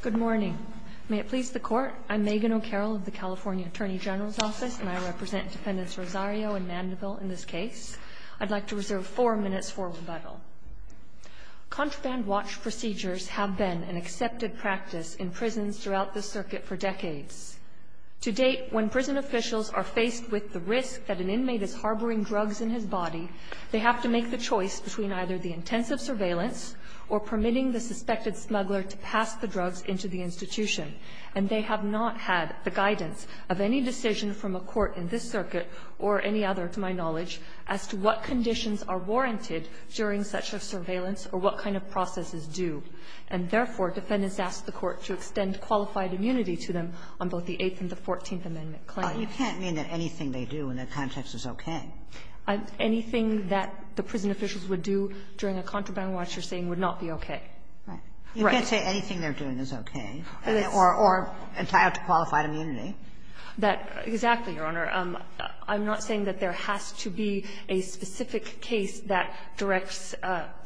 Good morning. May it please the Court, I'm Megan O'Carroll of the California Attorney General's Office and I represent Defendants Rosario and Mandeville in this case. I'd like to reserve four minutes for rebuttal. Contraband watch procedures have been an accepted practice in prisons throughout the circuit for decades. To date, when prison officials are faced with the risk that an inmate is harboring drugs in his body, they have to make the choice between either the intensive surveillance or permitting the suspected smuggler to pass the drugs into the institution. And they have not had the guidance of any decision from a court in this circuit or any other, to my knowledge, as to what conditions are warranted during such a surveillance or what kind of processes do. And therefore, Defendants ask the Court to extend qualified immunity to them on both the Eighth and the Fourteenth Amendment claims. Kagan You can't mean that anything they do in that context is okay. Anything that the prison officials would do during a contraband watch, you're saying, would not be okay. Right. Right. Kagan You can't say anything they're doing is okay or entitled to qualified immunity. That – exactly, Your Honor. I'm not saying that there has to be a specific case that directs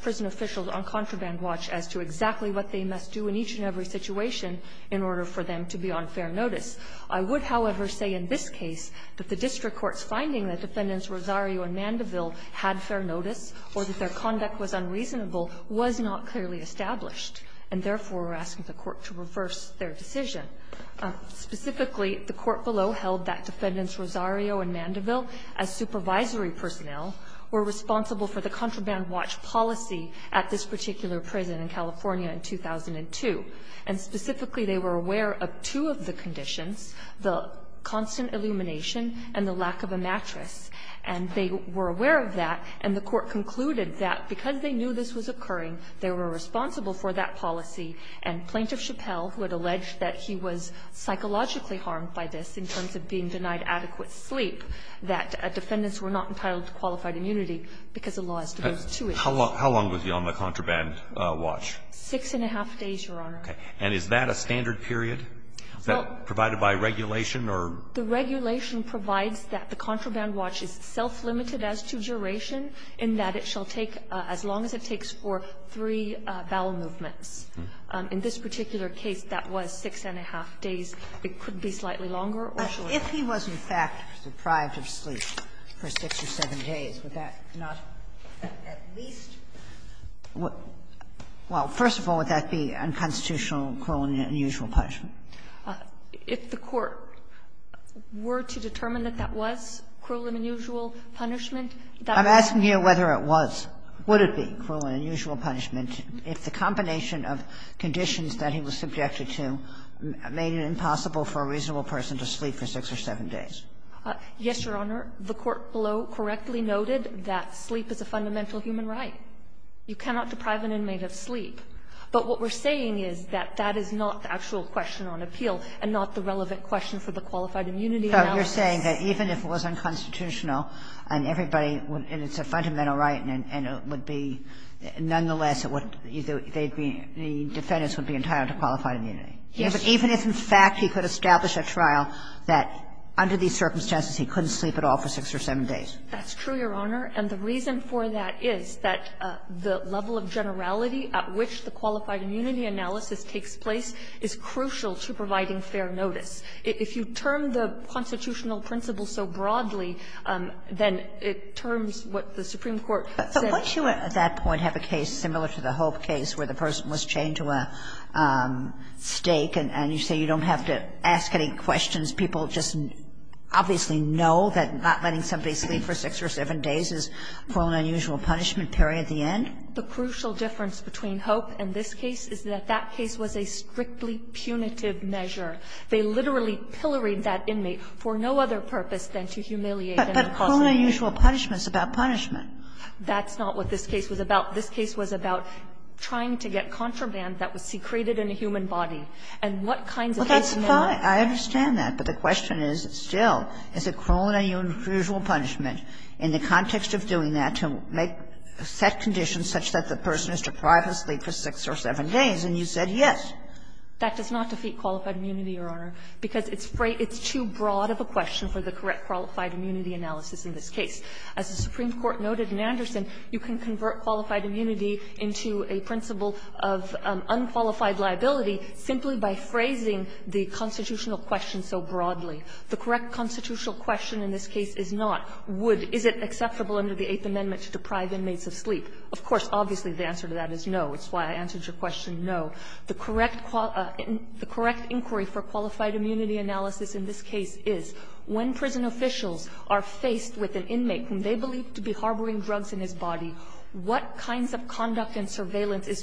prison officials on contraband watch as to exactly what they must do in each and every situation in order for them to be on fair notice. I would, however, say in this case that the district court's finding that Defendants Rosario and Mandeville had fair notice or that their conduct was unreasonable was not clearly established, and therefore, we're asking the Court to reverse their decision. Specifically, the court below held that Defendants Rosario and Mandeville, as supervisory personnel, were responsible for the contraband watch policy at this particular prison in California in 2002. And specifically, they were aware of two of the conditions, the constant illumination and the lack of a mattress. And they were aware of that, and the Court concluded that because they knew this was occurring, they were responsible for that policy. And Plaintiff Chappell, who had alleged that he was psychologically harmed by this in terms of being denied adequate sleep, that Defendants were not entitled to qualified immunity because the law has to go to two issues. How long was he on the contraband watch? Six-and-a-half days, Your Honor. Okay. And is that a standard period provided by regulation or? The regulation provides that the contraband watch is self-limited as to duration, in that it shall take as long as it takes for three bowel movements. In this particular case, that was six-and-a-half days. It could be slightly longer or shorter. If he was, in fact, deprived of sleep for six or seven days, would that not at least Well, first of all, would that be unconstitutional cruel and unusual punishment? If the Court were to determine that that was cruel and unusual punishment, that would be. I'm asking here whether it was. Would it be cruel and unusual punishment if the combination of conditions that he was subjected to made it impossible for a reasonable person to sleep for six or seven days? Yes, Your Honor. The Court below correctly noted that sleep is a fundamental human right. You cannot deprive an inmate of sleep. But what we're saying is that that is not the actual question on appeal and not the relevant question for the qualified immunity analysis. So you're saying that even if it was unconstitutional and everybody would – and it's a fundamental right and it would be – nonetheless, it would – they'd be – the defendants would be entitled to qualified immunity? Yes. Even if, in fact, he could establish a trial that under these circumstances he couldn't sleep at all for six or seven days? That's true, Your Honor. And the reason for that is that the level of generality at which the qualified immunity analysis takes place is crucial to providing fair notice. If you term the constitutional principles so broadly, then it terms what the Supreme Court said. But wouldn't you at that point have a case similar to the Hope case where the person was chained to a stake and you say you don't have to ask any questions, people just obviously know that not letting somebody sleep for six or seven days is cruel and unusual punishment, period, the end? The crucial difference between Hope and this case is that that case was a strictly punitive measure. They literally pilloried that inmate for no other purpose than to humiliate him. But cruel and unusual punishment is about punishment. That's not what this case was about. This case was about trying to get contraband that was secreted in a human body. And what kinds of cases – Kagan. Kagan. Well, that's fine. I understand that. But the question is still, is it cruel and unusual punishment in the context of doing that to make set conditions such that the person is deprived of sleep for six or seven days, and you said yes? That does not defeat qualified immunity, Your Honor, because it's too broad of a question for the correct qualified immunity analysis in this case. As the Supreme Court noted in Anderson, you can convert qualified immunity into a principle of unqualified liability simply by phrasing the constitutional question so broadly. The correct constitutional question in this case is not, would – is it acceptable under the Eighth Amendment to deprive inmates of sleep? Of course, obviously, the answer to that is no. It's why I answered your question no. The correct inquiry for qualified immunity analysis in this case is, when prison officials are faced with an inmate whom they believe to be harboring drugs in his sleep, they are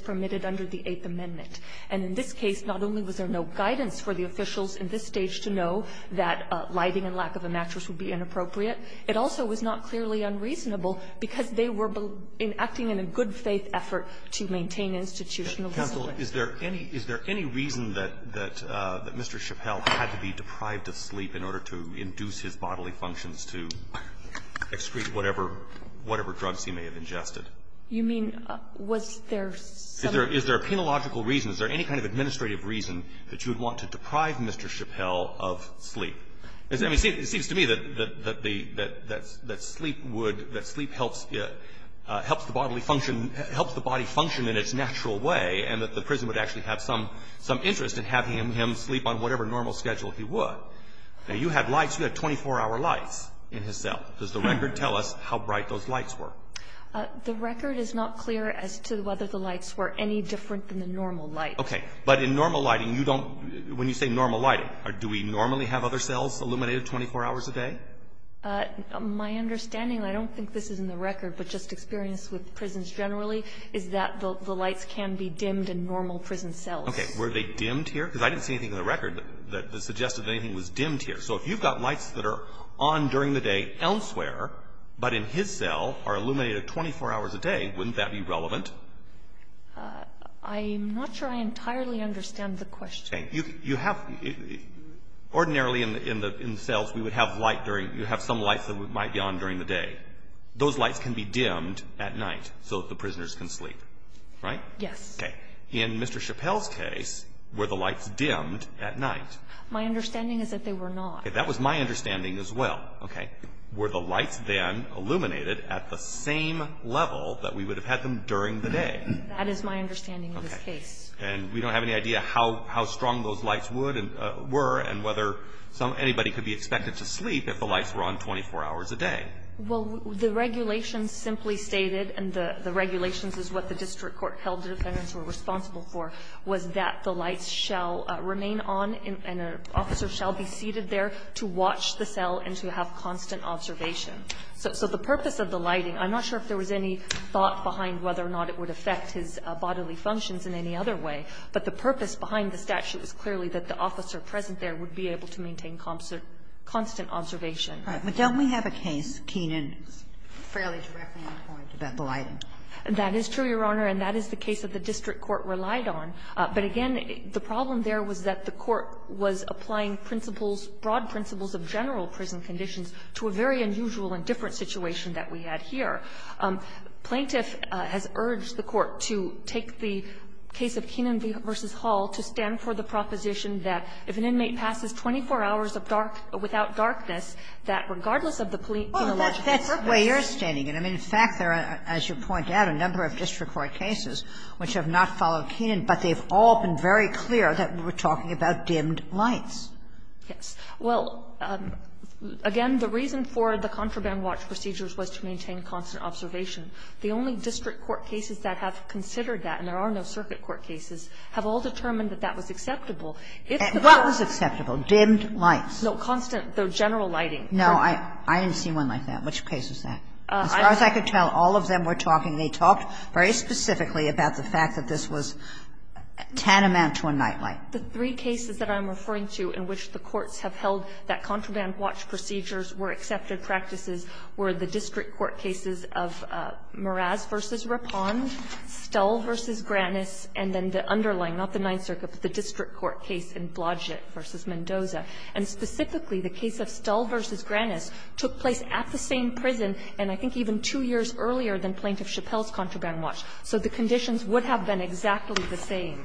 prohibited under the Eighth Amendment. And in this case, not only was there no guidance for the officials in this stage to know that lighting and lack of a mattress would be inappropriate, it also was not clearly unreasonable because they were acting in a good-faith effort to maintain institutional discipline. Roberts. Alitos, is there any reason that Mr. Chappelle had to be deprived of sleep in order to induce his bodily functions to excrete whatever drugs he may have ingested? You mean, was there some other reason? Is there a penological reason? Is there any kind of administrative reason that you would want to deprive Mr. Chappelle of sleep? I mean, it seems to me that the – that sleep would – that sleep helps the bodily function – helps the body function in its natural way, and that the prison would actually have some interest in having him sleep on whatever normal schedule he would. Now, you had lights, you had 24-hour lights in his cell. Does the record tell us how bright those lights were? The record is not clear as to whether the lights were any different than the normal lights. Okay. But in normal lighting, you don't – when you say normal lighting, do we normally have other cells illuminated 24 hours a day? My understanding, and I don't think this is in the record, but just experience with prisons generally, is that the lights can be dimmed in normal prison cells. Okay. Were they dimmed here? Because I didn't see anything in the record that suggested anything was dimmed here. So if you've got lights that are on during the day elsewhere, but in his cell are illuminated 24 hours a day, wouldn't that be relevant? I'm not sure I entirely understand the question. Okay. You have – ordinarily in the cells, we would have light during – you have some lights that might be on during the day. Those lights can be dimmed at night so that the prisoners can sleep, right? Yes. Okay. In Mr. Chappelle's case, were the lights dimmed at night? My understanding is that they were not. Okay. That was my understanding as well. Okay. Were the lights then illuminated at the same level that we would have had them during the day? That is my understanding of this case. Okay. And we don't have any idea how strong those lights would and were and whether some – anybody could be expected to sleep if the lights were on 24 hours a day. Well, the regulations simply stated, and the regulations is what the district court held the defendants were responsible for, was that the lights shall remain on and an officer shall be seated there to watch the cell and to have constant observation. So the purpose of the lighting, I'm not sure if there was any thought behind whether or not it would affect his bodily functions in any other way, but the purpose behind the statute is clearly that the officer present there would be able to maintain constant observation. All right. But don't we have a case, Keenan, fairly directly on point about the lighting? That is true, Your Honor, and that is the case that the district court relied on. But again, the problem there was that the court was applying principles, broad principles of general prison conditions to a very unusual and different situation that we had here. Plaintiff has urged the court to take the case of Keenan v. Hall to stand for the proposition that if an inmate passes 24 hours of dark – without darkness, that regardless of the police – Well, that's the way you're standing it. I mean, in fact, there are, as you point out, a number of district court cases which have not followed Keenan, but they've all been very clear that we're talking about dimmed lights. Yes. Well, again, the reason for the contraband watch procedures was to maintain constant observation. The only district court cases that have considered that, and there are no circuit court cases, have all determined that that was acceptable. If the court – What was acceptable? Dimmed lights. No, constant, though general lighting. No, I didn't see one like that. Which case was that? As far as I could tell, all of them were talking. They talked very specifically about the fact that this was a tenement to a night light. The three cases that I'm referring to in which the courts have held that contraband watch procedures were accepted practices were the district court cases of Meraz v. Rapone, Stull v. Granis, and then the underlying – not the Ninth Circuit, but the district court case in Blodgett v. Mendoza. And specifically, the case of Stull v. Granis took place at the same prison, and I think even two years earlier than Plaintiff Chappelle's contraband watch. So the conditions would have been exactly the same.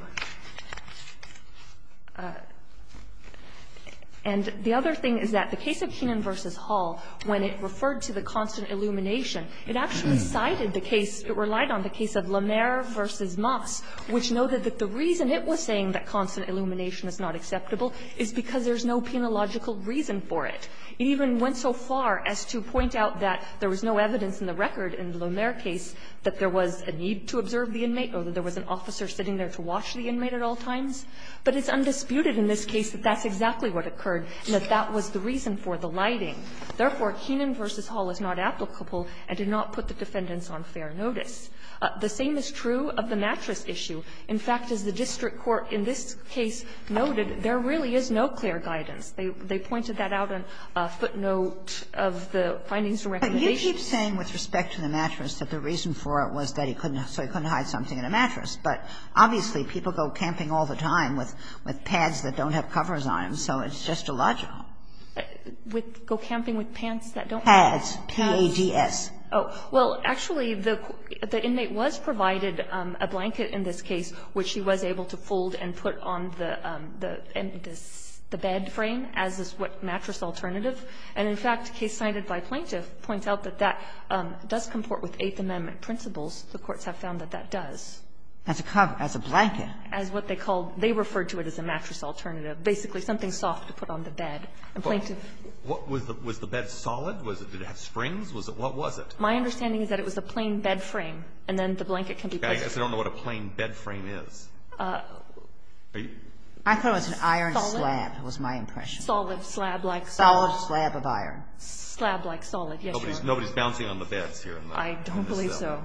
And the other thing is that the case of Keenan v. Hall, when it referred to the constant illumination, it actually cited the case – it relied on the case of Lemaire v. Moss, which noted that the reason it was saying that constant illumination is not acceptable is because there's no penological reason for it. It even went so far as to point out that there was no evidence in the record in the case of the inmate at all times. But it's undisputed in this case that that's exactly what occurred and that that was the reason for the lighting. Therefore, Keenan v. Hall is not applicable and did not put the defendants on fair notice. The same is true of the mattress issue. In fact, as the district court in this case noted, there really is no clear guidance. They pointed that out on footnote of the findings and recommendations. Kagan, you keep saying with respect to the mattress that the reason for it was that he couldn't – so he couldn't hide something in a mattress. But obviously, people go camping all the time with pads that don't have covers on them, so it's just illogical. With – go camping with pants that don't have covers? Pads, P-A-D-S. Oh. Well, actually, the inmate was provided a blanket in this case which he was able to fold and put on the bed frame as a mattress alternative. And in fact, a case cited by Plaintiff points out that that does comport with Eighth Amendment principles. The courts have found that that does. As a cover, as a blanket. As what they called – they referred to it as a mattress alternative, basically something soft to put on the bed. And Plaintiff – Well, was the bed solid? Was it – did it have springs? Was it – what was it? My understanding is that it was a plain bed frame, and then the blanket can be placed on it. I guess I don't know what a plain bed frame is. I thought it was an iron slab, was my impression. Solid slab like solid slab of iron. Slab like solid, yes, Your Honor. Nobody's bouncing on the beds here in the cell. I don't believe so.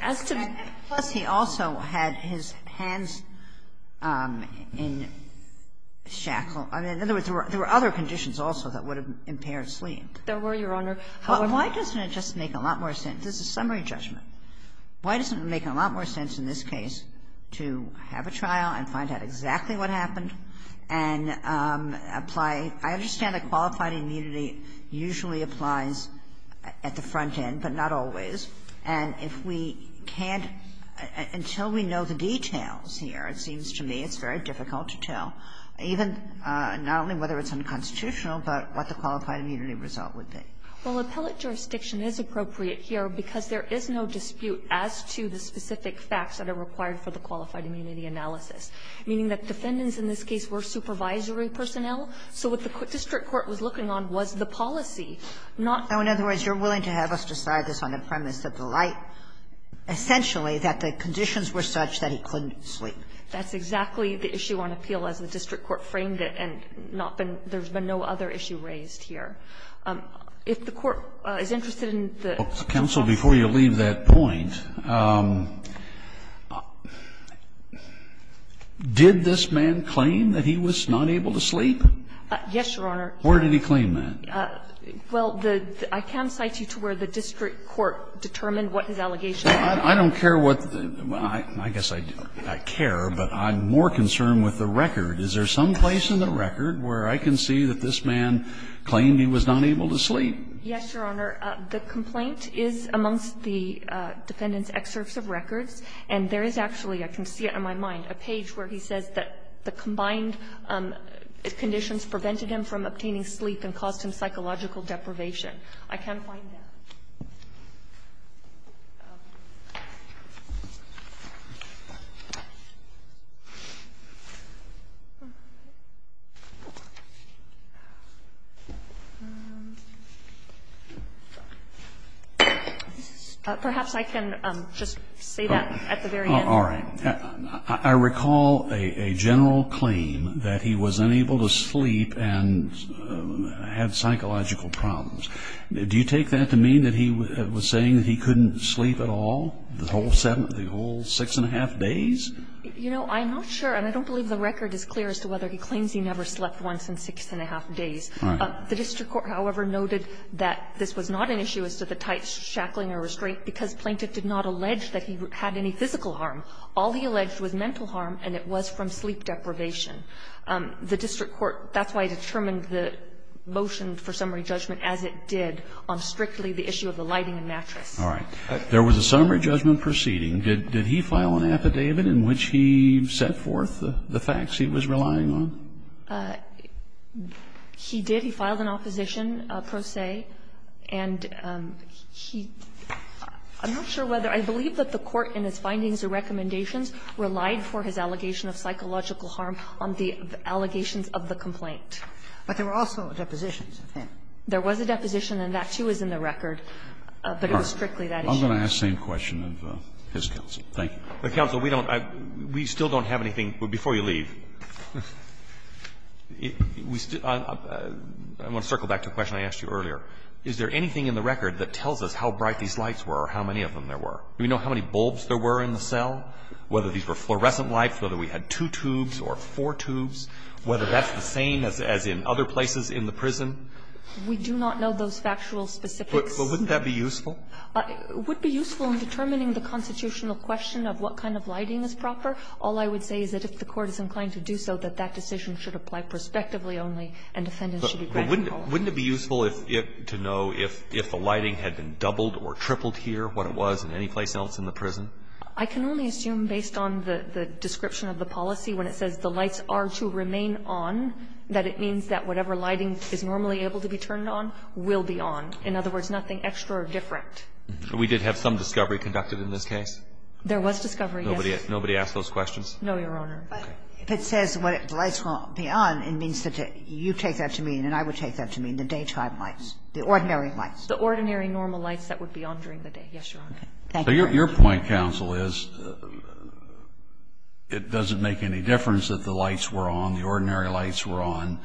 As to the – Plus, he also had his hands in shackle. In other words, there were other conditions also that would have impaired sleep. There were, Your Honor. Why doesn't it just make a lot more sense? This is a summary judgment. Why doesn't it make a lot more sense in this case to have a trial and find out exactly what happened and apply? I understand that qualified immunity usually applies at the front end, but not always. And if we can't – until we know the details here, it seems to me it's very difficult to tell, even not only whether it's unconstitutional, but what the qualified immunity result would be. Well, appellate jurisdiction is appropriate here because there is no dispute as to the specific facts that are required for the qualified immunity analysis, meaning that defendants in this case were supervisory personnel. So what the district court was looking on was the policy, not the fact that the defendant was in the darkness of the light, essentially, that the conditions were such that he couldn't sleep. That's exactly the issue on appeal as the district court framed it, and not been – there's been no other issue raised here. If the Court is interested in the counsel before you leave that point, did this man claim that he was not able to sleep? Yes, Your Honor. Where did he claim that? Well, the – I can cite you to where the district court determined what his allegation was. I don't care what the – I guess I care, but I'm more concerned with the record. Is there some place in the record where I can see that this man claimed he was not able to sleep? Yes, Your Honor. The complaint is amongst the defendant's excerpts of records, and there is actually – I can see it on my mind – a page where he says that the combined conditions prevented him from obtaining sleep and caused him psychological deprivation. I can't find that. Perhaps I can just say that at the very end. All right. I recall a general claim that he was unable to sleep and had psychological problems. Do you take that to mean that he was saying that he couldn't sleep at all the whole seven – the whole six and a half days? You know, I'm not sure, and I don't believe the record is clear as to whether he claims he never slept once in six and a half days. The district court, however, noted that this was not an issue as to the tight shackling or restraint because Plaintiff did not allege that he had any physical harm. All he alleged was mental harm, and it was from sleep deprivation. The district court – that's why I determined the motion for summary judgment as it did on strictly the issue of the lighting and mattress. All right. There was a summary judgment proceeding. Did he file an affidavit in which he set forth the facts he was relying on? He did. He filed an opposition pro se, and he – I'm not sure whether – I believe that the court in its findings and recommendations relied for his allegation of psychological harm on the allegations of the complaint. But there were also depositions of him. There was a deposition, and that, too, is in the record, but it was strictly that issue. I'm going to ask the same question of his counsel. Thank you. But, counsel, we don't – we still don't have anything. Before you leave, we still – I want to circle back to a question I asked you earlier. Is there anything in the record that tells us how bright these lights were or how many of them there were? Do we know how many bulbs there were in the cell, whether these were fluorescent lights, whether we had two tubes or four tubes, whether that's the same as in other places in the prison? We do not know those factual specifics. But wouldn't that be useful? It would be useful in determining the constitutional question of what kind of lighting is proper. All I would say is that if the court is inclined to do so, that that decision should apply prospectively only, and defendants should be granted all of them. But wouldn't it be useful if – to know if the lighting had been doubled or tripled here, what it was in any place else in the prison? I can only assume, based on the description of the policy, when it says the lights are to remain on, that it means that whatever lighting is normally able to be turned on will be on. In other words, nothing extra or different. We did have some discovery conducted in this case? There was discovery, yes. Nobody asked those questions? No, Your Honor. Okay. But if it says the lights will be on, it means that you take that to mean and I would take that to mean the daytime lights, the ordinary lights. The ordinary normal lights that would be on during the day. Yes, Your Honor. Thank you. Your point, counsel, is it doesn't make any difference that the lights were on, the ordinary lights were on,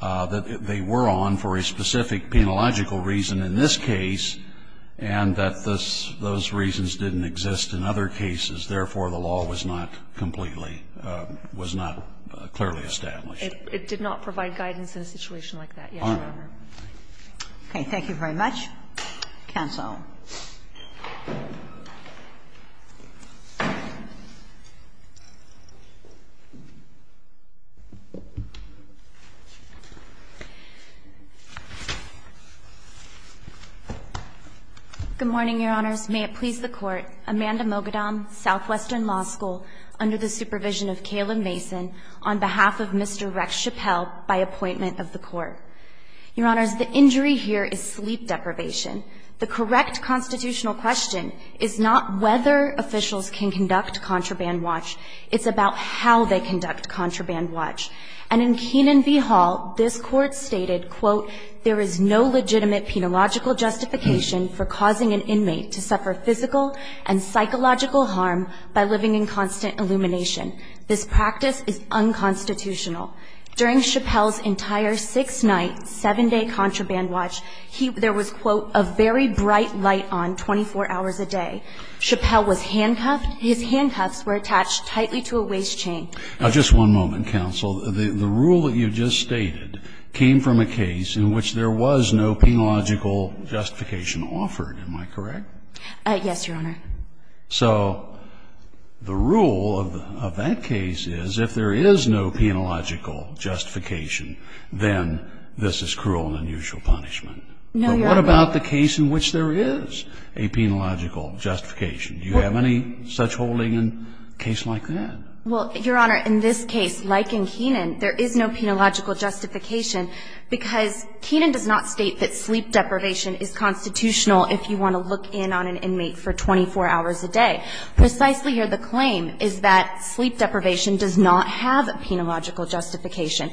that they were on for a specific penalogical reason in this case, and that those reasons didn't exist in other cases, therefore, the law was not completely – was not clearly established. Thank you, Your Honor. Okay. Thank you very much. Counsel. Good morning, Your Honors. May it please the Court. Amanda Mogadom, Southwestern Law School, under the supervision of Caleb Mason, on behalf of Mr. Rex Chappell, by appointment of the Court. Your Honors, the injury here is sleep deprivation. The correct constitutional question is not whether officials can conduct contraband watch. It's about how they conduct contraband watch. And in Keenan v. Hall, this Court stated, quote, There is no legitimate penological justification for causing an inmate to suffer physical and psychological harm by living in constant illumination. This practice is unconstitutional. During Chappell's entire six-night, seven-day contraband watch, he – there was, quote, a very bright light on 24 hours a day. Chappell was handcuffed. His handcuffs were attached tightly to a waist chain. Now, just one moment, Counsel. The rule that you just stated came from a case in which there was no penological justification offered. Am I correct? Yes, Your Honor. So the rule of that case is if there is no penological justification, then this is cruel and unusual punishment. No, Your Honor. But what about the case in which there is a penological justification? Do you have any such holding in a case like that? Well, Your Honor, in this case, like in Keenan, there is no penological justification because Keenan does not state that sleep deprivation is constitutional if you want to look in on an inmate for 24 hours a day. Precisely, Your Honor, the claim is that sleep deprivation does not have a penological justification.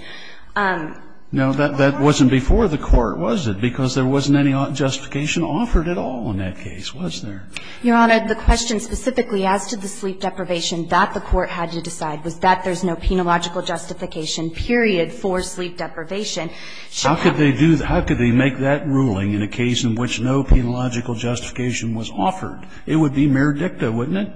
Now, that wasn't before the Court, was it? Because there wasn't any justification offered at all in that case, was there? Your Honor, the question specifically as to the sleep deprivation that the Court had to decide was that there's no penological justification, period, for sleep deprivation. How could they make that ruling in a case in which no penological justification was offered? It would be mere dicta, wouldn't it?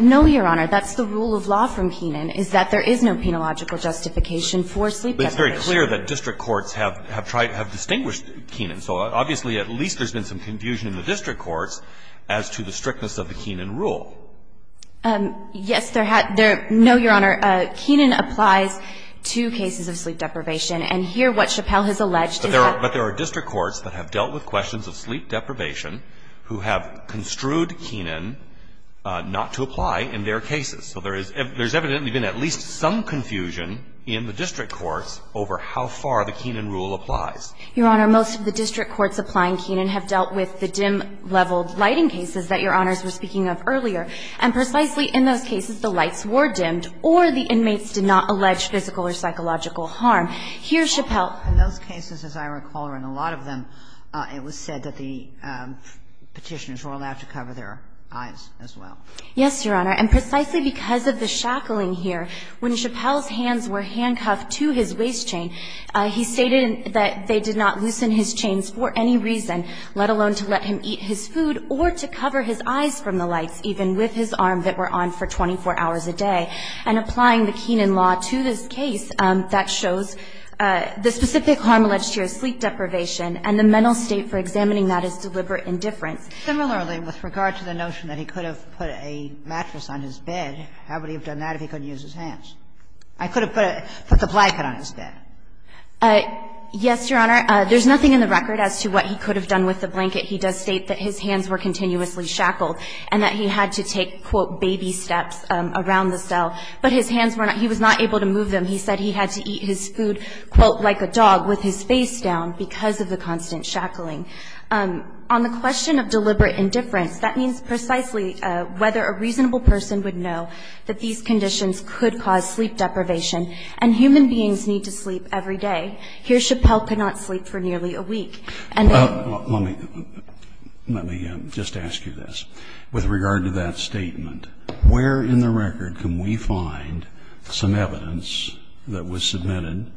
No, Your Honor. That's the rule of law from Keenan, is that there is no penological justification for sleep deprivation. But it's very clear that district courts have distinguished Keenan. So obviously, at least there's been some confusion in the district courts as to the strictness of the Keenan rule. Yes, there has no, Your Honor, Keenan applies to cases of sleep deprivation. And here, what Chappelle has alleged is that But there are district courts that have dealt with questions of sleep deprivation who have construed Keenan not to apply in their cases. So there's evidently been at least some confusion in the district courts over how far the Keenan rule applies. Your Honor, most of the district courts applying Keenan have dealt with the dim-level lighting cases that Your Honors were speaking of earlier. And precisely in those cases, the lights were dimmed or the inmates did not allege physical or psychological harm. Here, Chappelle In those cases, as I recall, and a lot of them, it was said that the Petitioners were allowed to cover their eyes as well. Yes, Your Honor. And precisely because of the shackling here, when Chappelle's hands were handcuffed to his waist chain, he stated that they did not loosen his chains for any reason, let alone to let him eat his food or to cover his eyes from the lights, even with his arm that were on for 24 hours a day. And applying the Keenan law to this case, that shows the specific harm alleged to your sleep deprivation and the mental state for examining that is deliberate indifference. Similarly, with regard to the notion that he could have put a mattress on his bed, how would he have done that if he couldn't use his hands? I could have put the blanket on his bed. Yes, Your Honor. There's nothing in the record as to what he could have done with the blanket. He does state that his hands were continuously shackled and that he had to take, quote, baby steps around the cell. But his hands were not, he was not able to move them. He said he had to eat his food, quote, like a dog with his face down because of the constant shackling. On the question of deliberate indifference, that means precisely whether a reasonable person would know that these conditions could cause sleep deprivation and human beings need to sleep every day. Here, Chappelle could not sleep for nearly a week. Let me just ask you this. With regard to that statement, where in the record can we find some evidence that was submitted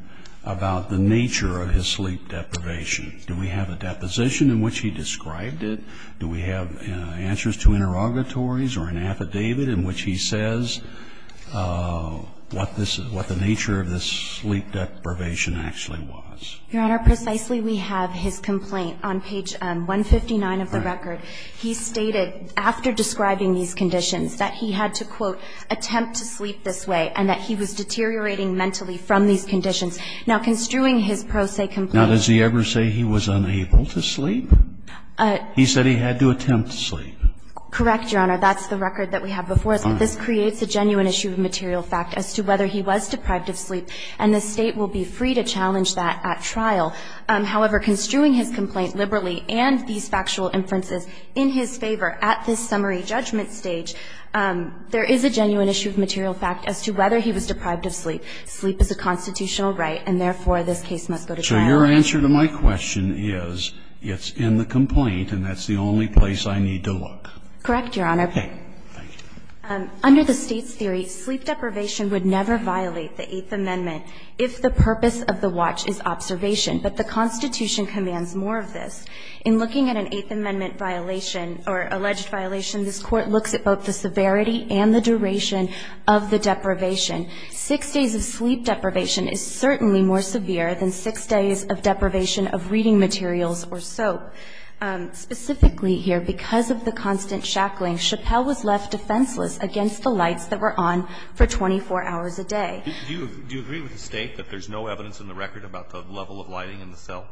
about the nature of his sleep deprivation? Do we have a deposition in which he described it? Do we have answers to interrogatories or an affidavit in which he says what this is, what the nature of this sleep deprivation actually was? Your Honor, precisely we have his complaint on page 159 of the record. He stated, after describing these conditions, that he had to, quote, attempt to sleep this way, and that he was deteriorating mentally from these conditions. Now, construing his pro se complaint Now, does he ever say he was unable to sleep? He said he had to attempt to sleep. Correct, Your Honor. That's the record that we have before us, but this creates a genuine issue of material fact as to whether he was deprived of sleep, and the State will be free to challenge that at trial. However, construing his complaint liberally and these factual inferences in his favor at this summary judgment stage, there is a genuine issue of material fact as to whether he was deprived of sleep. Sleep is a constitutional right, and therefore, this case must go to trial. So your answer to my question is it's in the complaint, and that's the only place I need to look. Correct, Your Honor. Okay. Thank you. Under the State's theory, sleep deprivation would never violate the Eighth Amendment if the purpose of the watch is observation, but the Constitution commands more of this. In looking at an Eighth Amendment violation or alleged violation, this Court looks at both the severity and the duration of the deprivation. Six days of sleep deprivation is certainly more severe than six days of deprivation of reading materials or soap. Specifically here, because of the constant shackling, Chappelle was left defenseless against the lights that were on for 24 hours a day. Do you agree with the State that there's no evidence in the record about the level of lighting in the cell?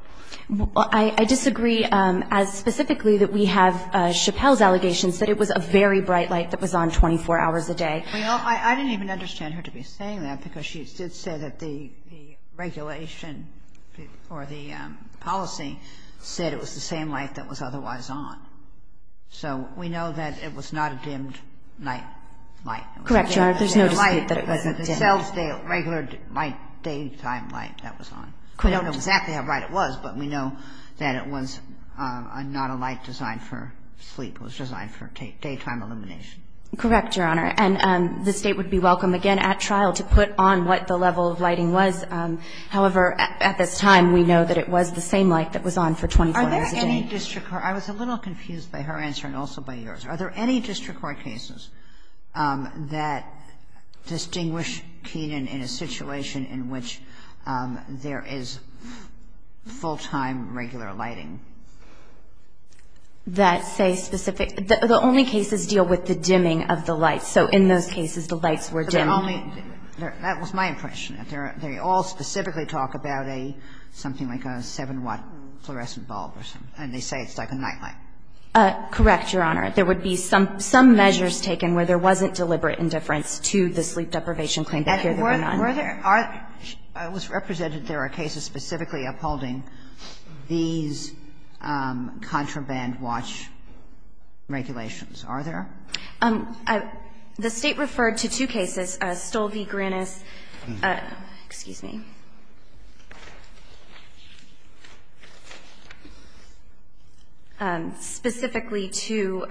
I disagree as specifically that we have Chappelle's allegations that it was a very bright light that was on 24 hours a day. Well, I didn't even understand her to be saying that, because she did say that the regulation or the policy said it was the same light that was otherwise on. So we know that it was not a dimmed night light. Correct, Your Honor. There's no dispute that it wasn't dimmed. The cell's regular daytime light that was on. We don't know exactly how bright it was, but we know that it was not a light designed for sleep. It was designed for daytime illumination. Correct, Your Honor. And the State would be welcome again at trial to put on what the level of lighting was. However, at this time, we know that it was the same light that was on for 24 hours a day. Are there any district court – I was a little confused by her answer and also by yours. Are there any district court cases that distinguish Keenan in a situation in which there is full-time regular lighting? That say specific – the only cases deal with the dimming of the lights. So in those cases, the lights were dimmed. That was my impression. They all specifically talk about something like a 7-watt fluorescent bulb or something. And they say it's like a night light. Correct, Your Honor. There would be some measures taken where there wasn't deliberate indifference to the sleep deprivation claim, but here there were none. Were there – was represented there are cases specifically upholding these contraband watch regulations. Are there? The State referred to two cases, Stolvi-Granis – excuse me – specifically to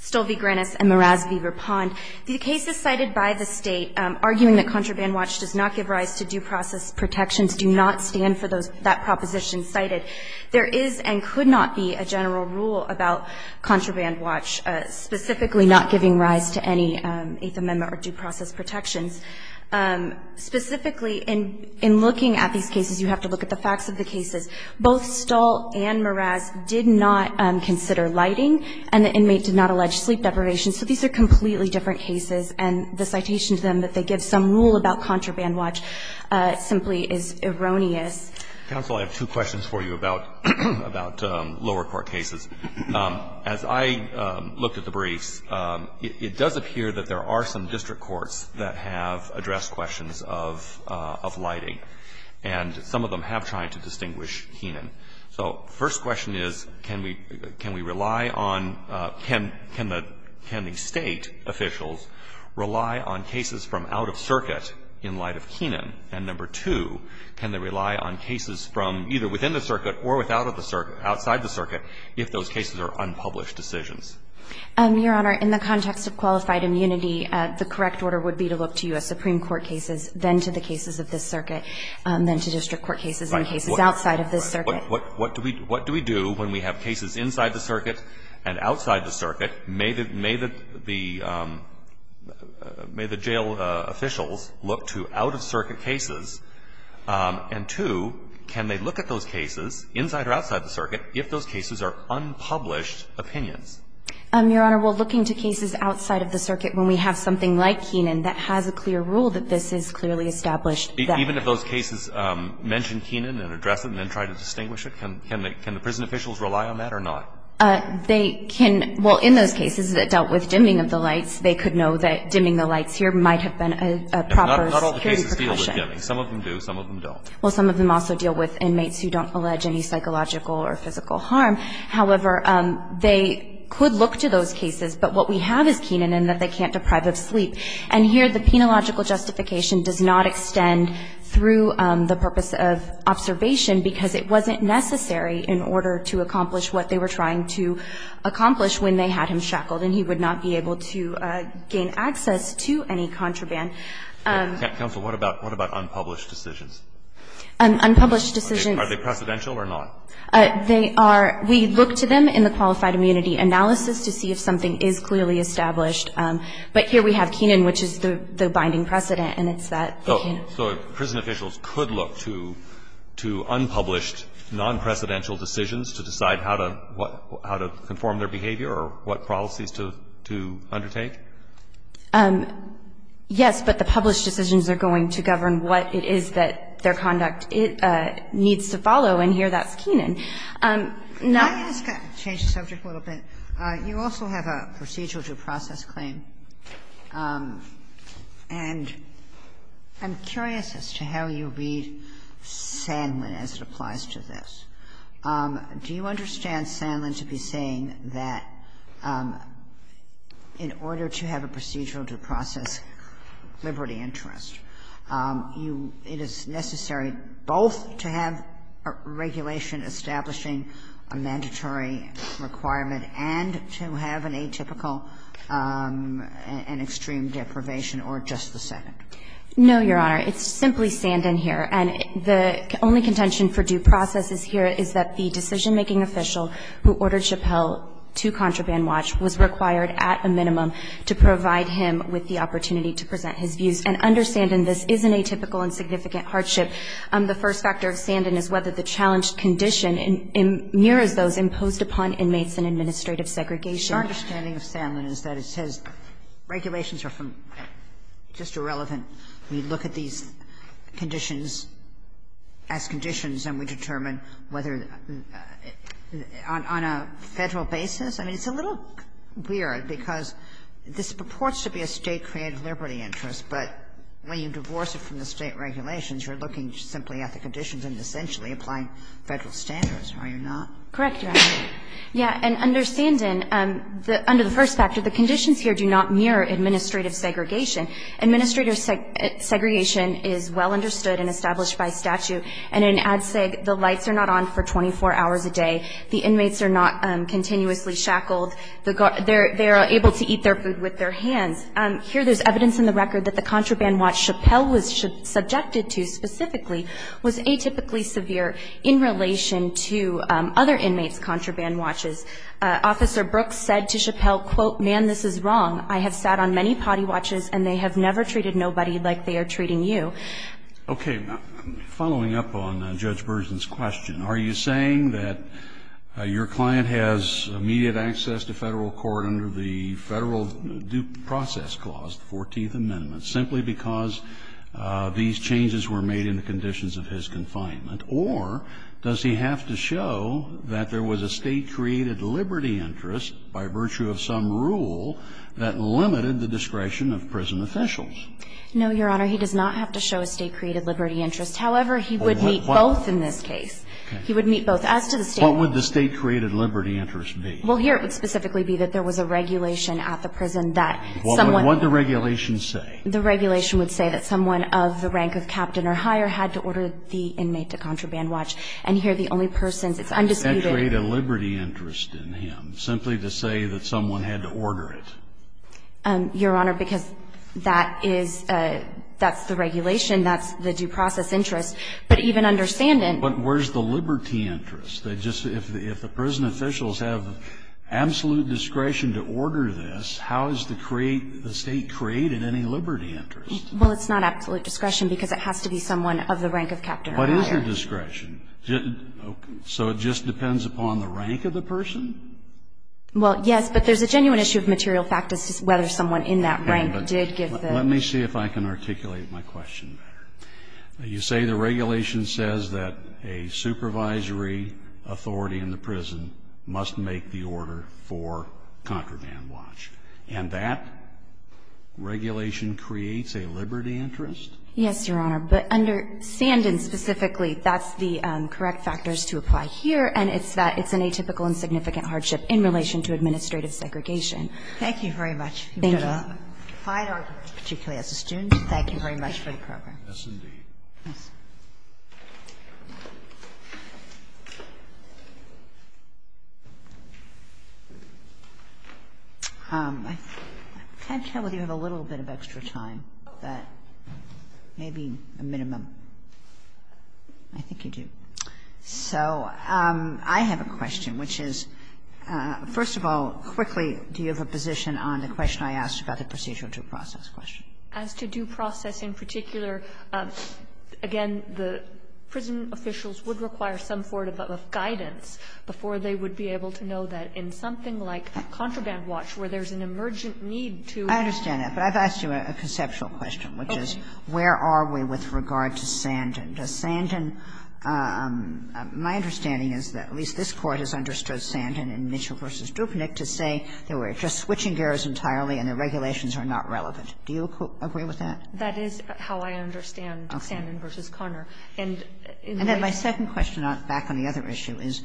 Stolvi-Granis and Meraz v. Vepond. The cases cited by the State arguing that contraband watch does not give rise to due process protections do not stand for those – that proposition cited. There is and could not be a general rule about contraband watch specifically not giving rise to any Eighth Amendment or due process protections. Specifically, in looking at these cases, you have to look at the facts of the cases. Both Stolvi-Granis and Meraz did not consider lighting and the inmate did not allege sleep deprivation. So these are completely different cases and the citation to them that they give some rule about contraband watch simply is erroneous. Counsel, I have two questions for you about lower court cases. As I looked at the briefs, it does appear that there are some district courts that have addressed questions of lighting. And some of them have tried to distinguish Keenan. So first question is, can we rely on – can the State officials rely on cases from out of circuit in light of Keenan? And number two, can they rely on cases from either within the circuit or without of the – outside the circuit if those cases are unpublished decisions? Your Honor, in the context of qualified immunity, the correct order would be to look first to U.S. Supreme Court cases, then to the cases of this circuit, then to district court cases and cases outside of this circuit. What do we do when we have cases inside the circuit and outside the circuit? May the jail officials look to out-of-circuit cases? And two, can they look at those cases, inside or outside the circuit, if those cases are unpublished opinions? Your Honor, well, looking to cases outside of the circuit, when we have something like Keenan, that has a clear rule that this is clearly established. Even if those cases mention Keenan and address it and then try to distinguish it, can the prison officials rely on that or not? They can – well, in those cases that dealt with dimming of the lights, they could know that dimming the lights here might have been a proper security precaution. Not all the cases deal with dimming. Some of them do. Some of them don't. Well, some of them also deal with inmates who don't allege any psychological or physical harm. However, they could look to those cases. But what we have is Keenan, and that they can't deprive of sleep. And here, the penological justification does not extend through the purpose of observation, because it wasn't necessary in order to accomplish what they were trying to accomplish when they had him shackled, and he would not be able to gain access to any contraband. Counsel, what about unpublished decisions? Unpublished decisions. Are they precedential or not? They are – we look to them in the qualified immunity analysis to see if something is clearly established. But here we have Keenan, which is the binding precedent, and it's that they can't So prison officials could look to unpublished, non-precedential decisions to decide how to conform their behavior or what policies to undertake? Yes, but the published decisions are going to govern what it is that their conduct needs to follow, and here that's Keenan. Now – Can I just change the subject a little bit? You also have a procedural due process claim, and I'm curious as to how you read Sanlin as it applies to this. Do you understand Sanlin to be saying that in order to have a procedural due process, liberty interest, you – it is necessary both to have a regulation establishing a mandatory requirement and to have an atypical and extreme deprivation or just the Senate? No, Your Honor. It's simply Sanlin here, and the only contention for due process is here is that the decision-making official who ordered Chappell to contraband watch was required at a minimum to provide him with the opportunity to present his views. And under Sanlin, this is an atypical and significant hardship. The first factor of Sanlin is whether the challenged condition mirrors those imposed upon inmates in administrative segregation. Your understanding of Sanlin is that it says regulations are from – just irrelevant. We look at these conditions as conditions and we determine whether on a Federal basis. I mean, it's a little weird because this purports to be a State-created liberty interest, but when you divorce it from the State regulations, you're looking simply at the conditions and essentially applying Federal standards, are you not? Correct, Your Honor. Yeah. And under Sanlin, under the first factor, the conditions here do not mirror administrative segregation. Administrative segregation is well understood and established by statute. And in ADCIG, the lights are not on for 24 hours a day. The inmates are not continuously shackled. They are able to eat their food with their hands. Here there's evidence in the record that the contraband watch Chappell was subjected to specifically was atypically severe in relation to other inmates' contraband watches. Officer Brooks said to Chappell, quote, man, this is wrong. I have sat on many potty watches and they have never treated nobody like they are treating you. Okay. Following up on Judge Burson's question, are you saying that your client has immediate access to Federal court under the Federal due process clause, the 14th section of the Federal statute, and that he has to show that there was a state-created liberty interest by virtue of some rule that limited the discretion of prison officials? No, Your Honor. He does not have to show a state-created liberty interest. However, he would meet both in this case. He would meet both. As to the state- What would the state-created liberty interest be? Well, here it would specifically be that there was a regulation at the prison that someone- What would the regulation say? The regulation would say that someone of the rank of captain or higher had to order the inmate to contraband watch. And here the only person's, it's undisputed- That would create a liberty interest in him, simply to say that someone had to order it. Your Honor, because that is the regulation, that's the due process interest. But even understanding- But where's the liberty interest? If the prison officials have absolute discretion to order this, how is the state created any liberty interest? Well, it's not absolute discretion because it has to be someone of the rank of captain or higher. What is the discretion? So it just depends upon the rank of the person? Well, yes, but there's a genuine issue of material fact as to whether someone in that rank did give the- Let me see if I can articulate my question better. You say the regulation says that a supervisory authority in the prison must make the order for contraband watch. And that regulation creates a liberty interest? Yes, Your Honor. But under Sandin specifically, that's the correct factors to apply here, and it's that it's an atypical and significant hardship in relation to administrative segregation. Thank you very much. Thank you. If you're going to fight or, particularly as a student, thank you very much for the program. Yes, indeed. Yes. I can't tell whether you have a little bit of extra time, but maybe a minimum. I think you do. So I have a question, which is, first of all, quickly, do you have a position on the question I asked about the procedural due process question? As to due process in particular, again, the prison officials would require some sort of guidance before they would be able to know that in something like contraband watch, where there's an emergent need to- I understand that, but I've asked you a conceptual question, which is, where are we with regard to Sandin? Does Sandin – my understanding is that at least this Court has understood Sandin in Mitchell v. Dupnick to say that we're just switching gears entirely and the regulations are not relevant. Do you agree with that? That is how I understand Sandin v. Conner. And in the case- And then my second question, back on the other issue, is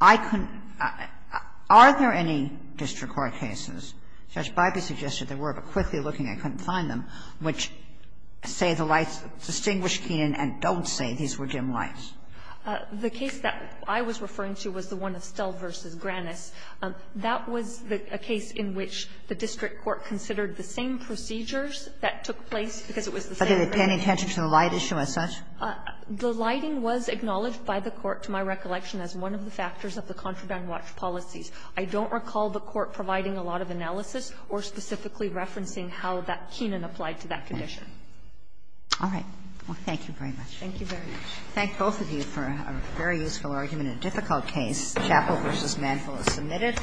I couldn't – are there any district court cases, Judge Biby suggested there were, but quickly looking I couldn't find them, which say the lights distinguish Keenan and don't say these were dim lights? The case that I was referring to was the one of Stell v. Granis. That was a case in which the district court considered the same procedures that took place because it was the same- But did it pay any attention to the light issue as such? The lighting was acknowledged by the Court, to my recollection, as one of the factors of the contraband watch policies. I don't recall the Court providing a lot of analysis or specifically referencing how that Keenan applied to that condition. All right. Thank you very much. Thank you very much. I thank both of you for a very useful argument in a difficult case, Chappell v. Manfill is submitted.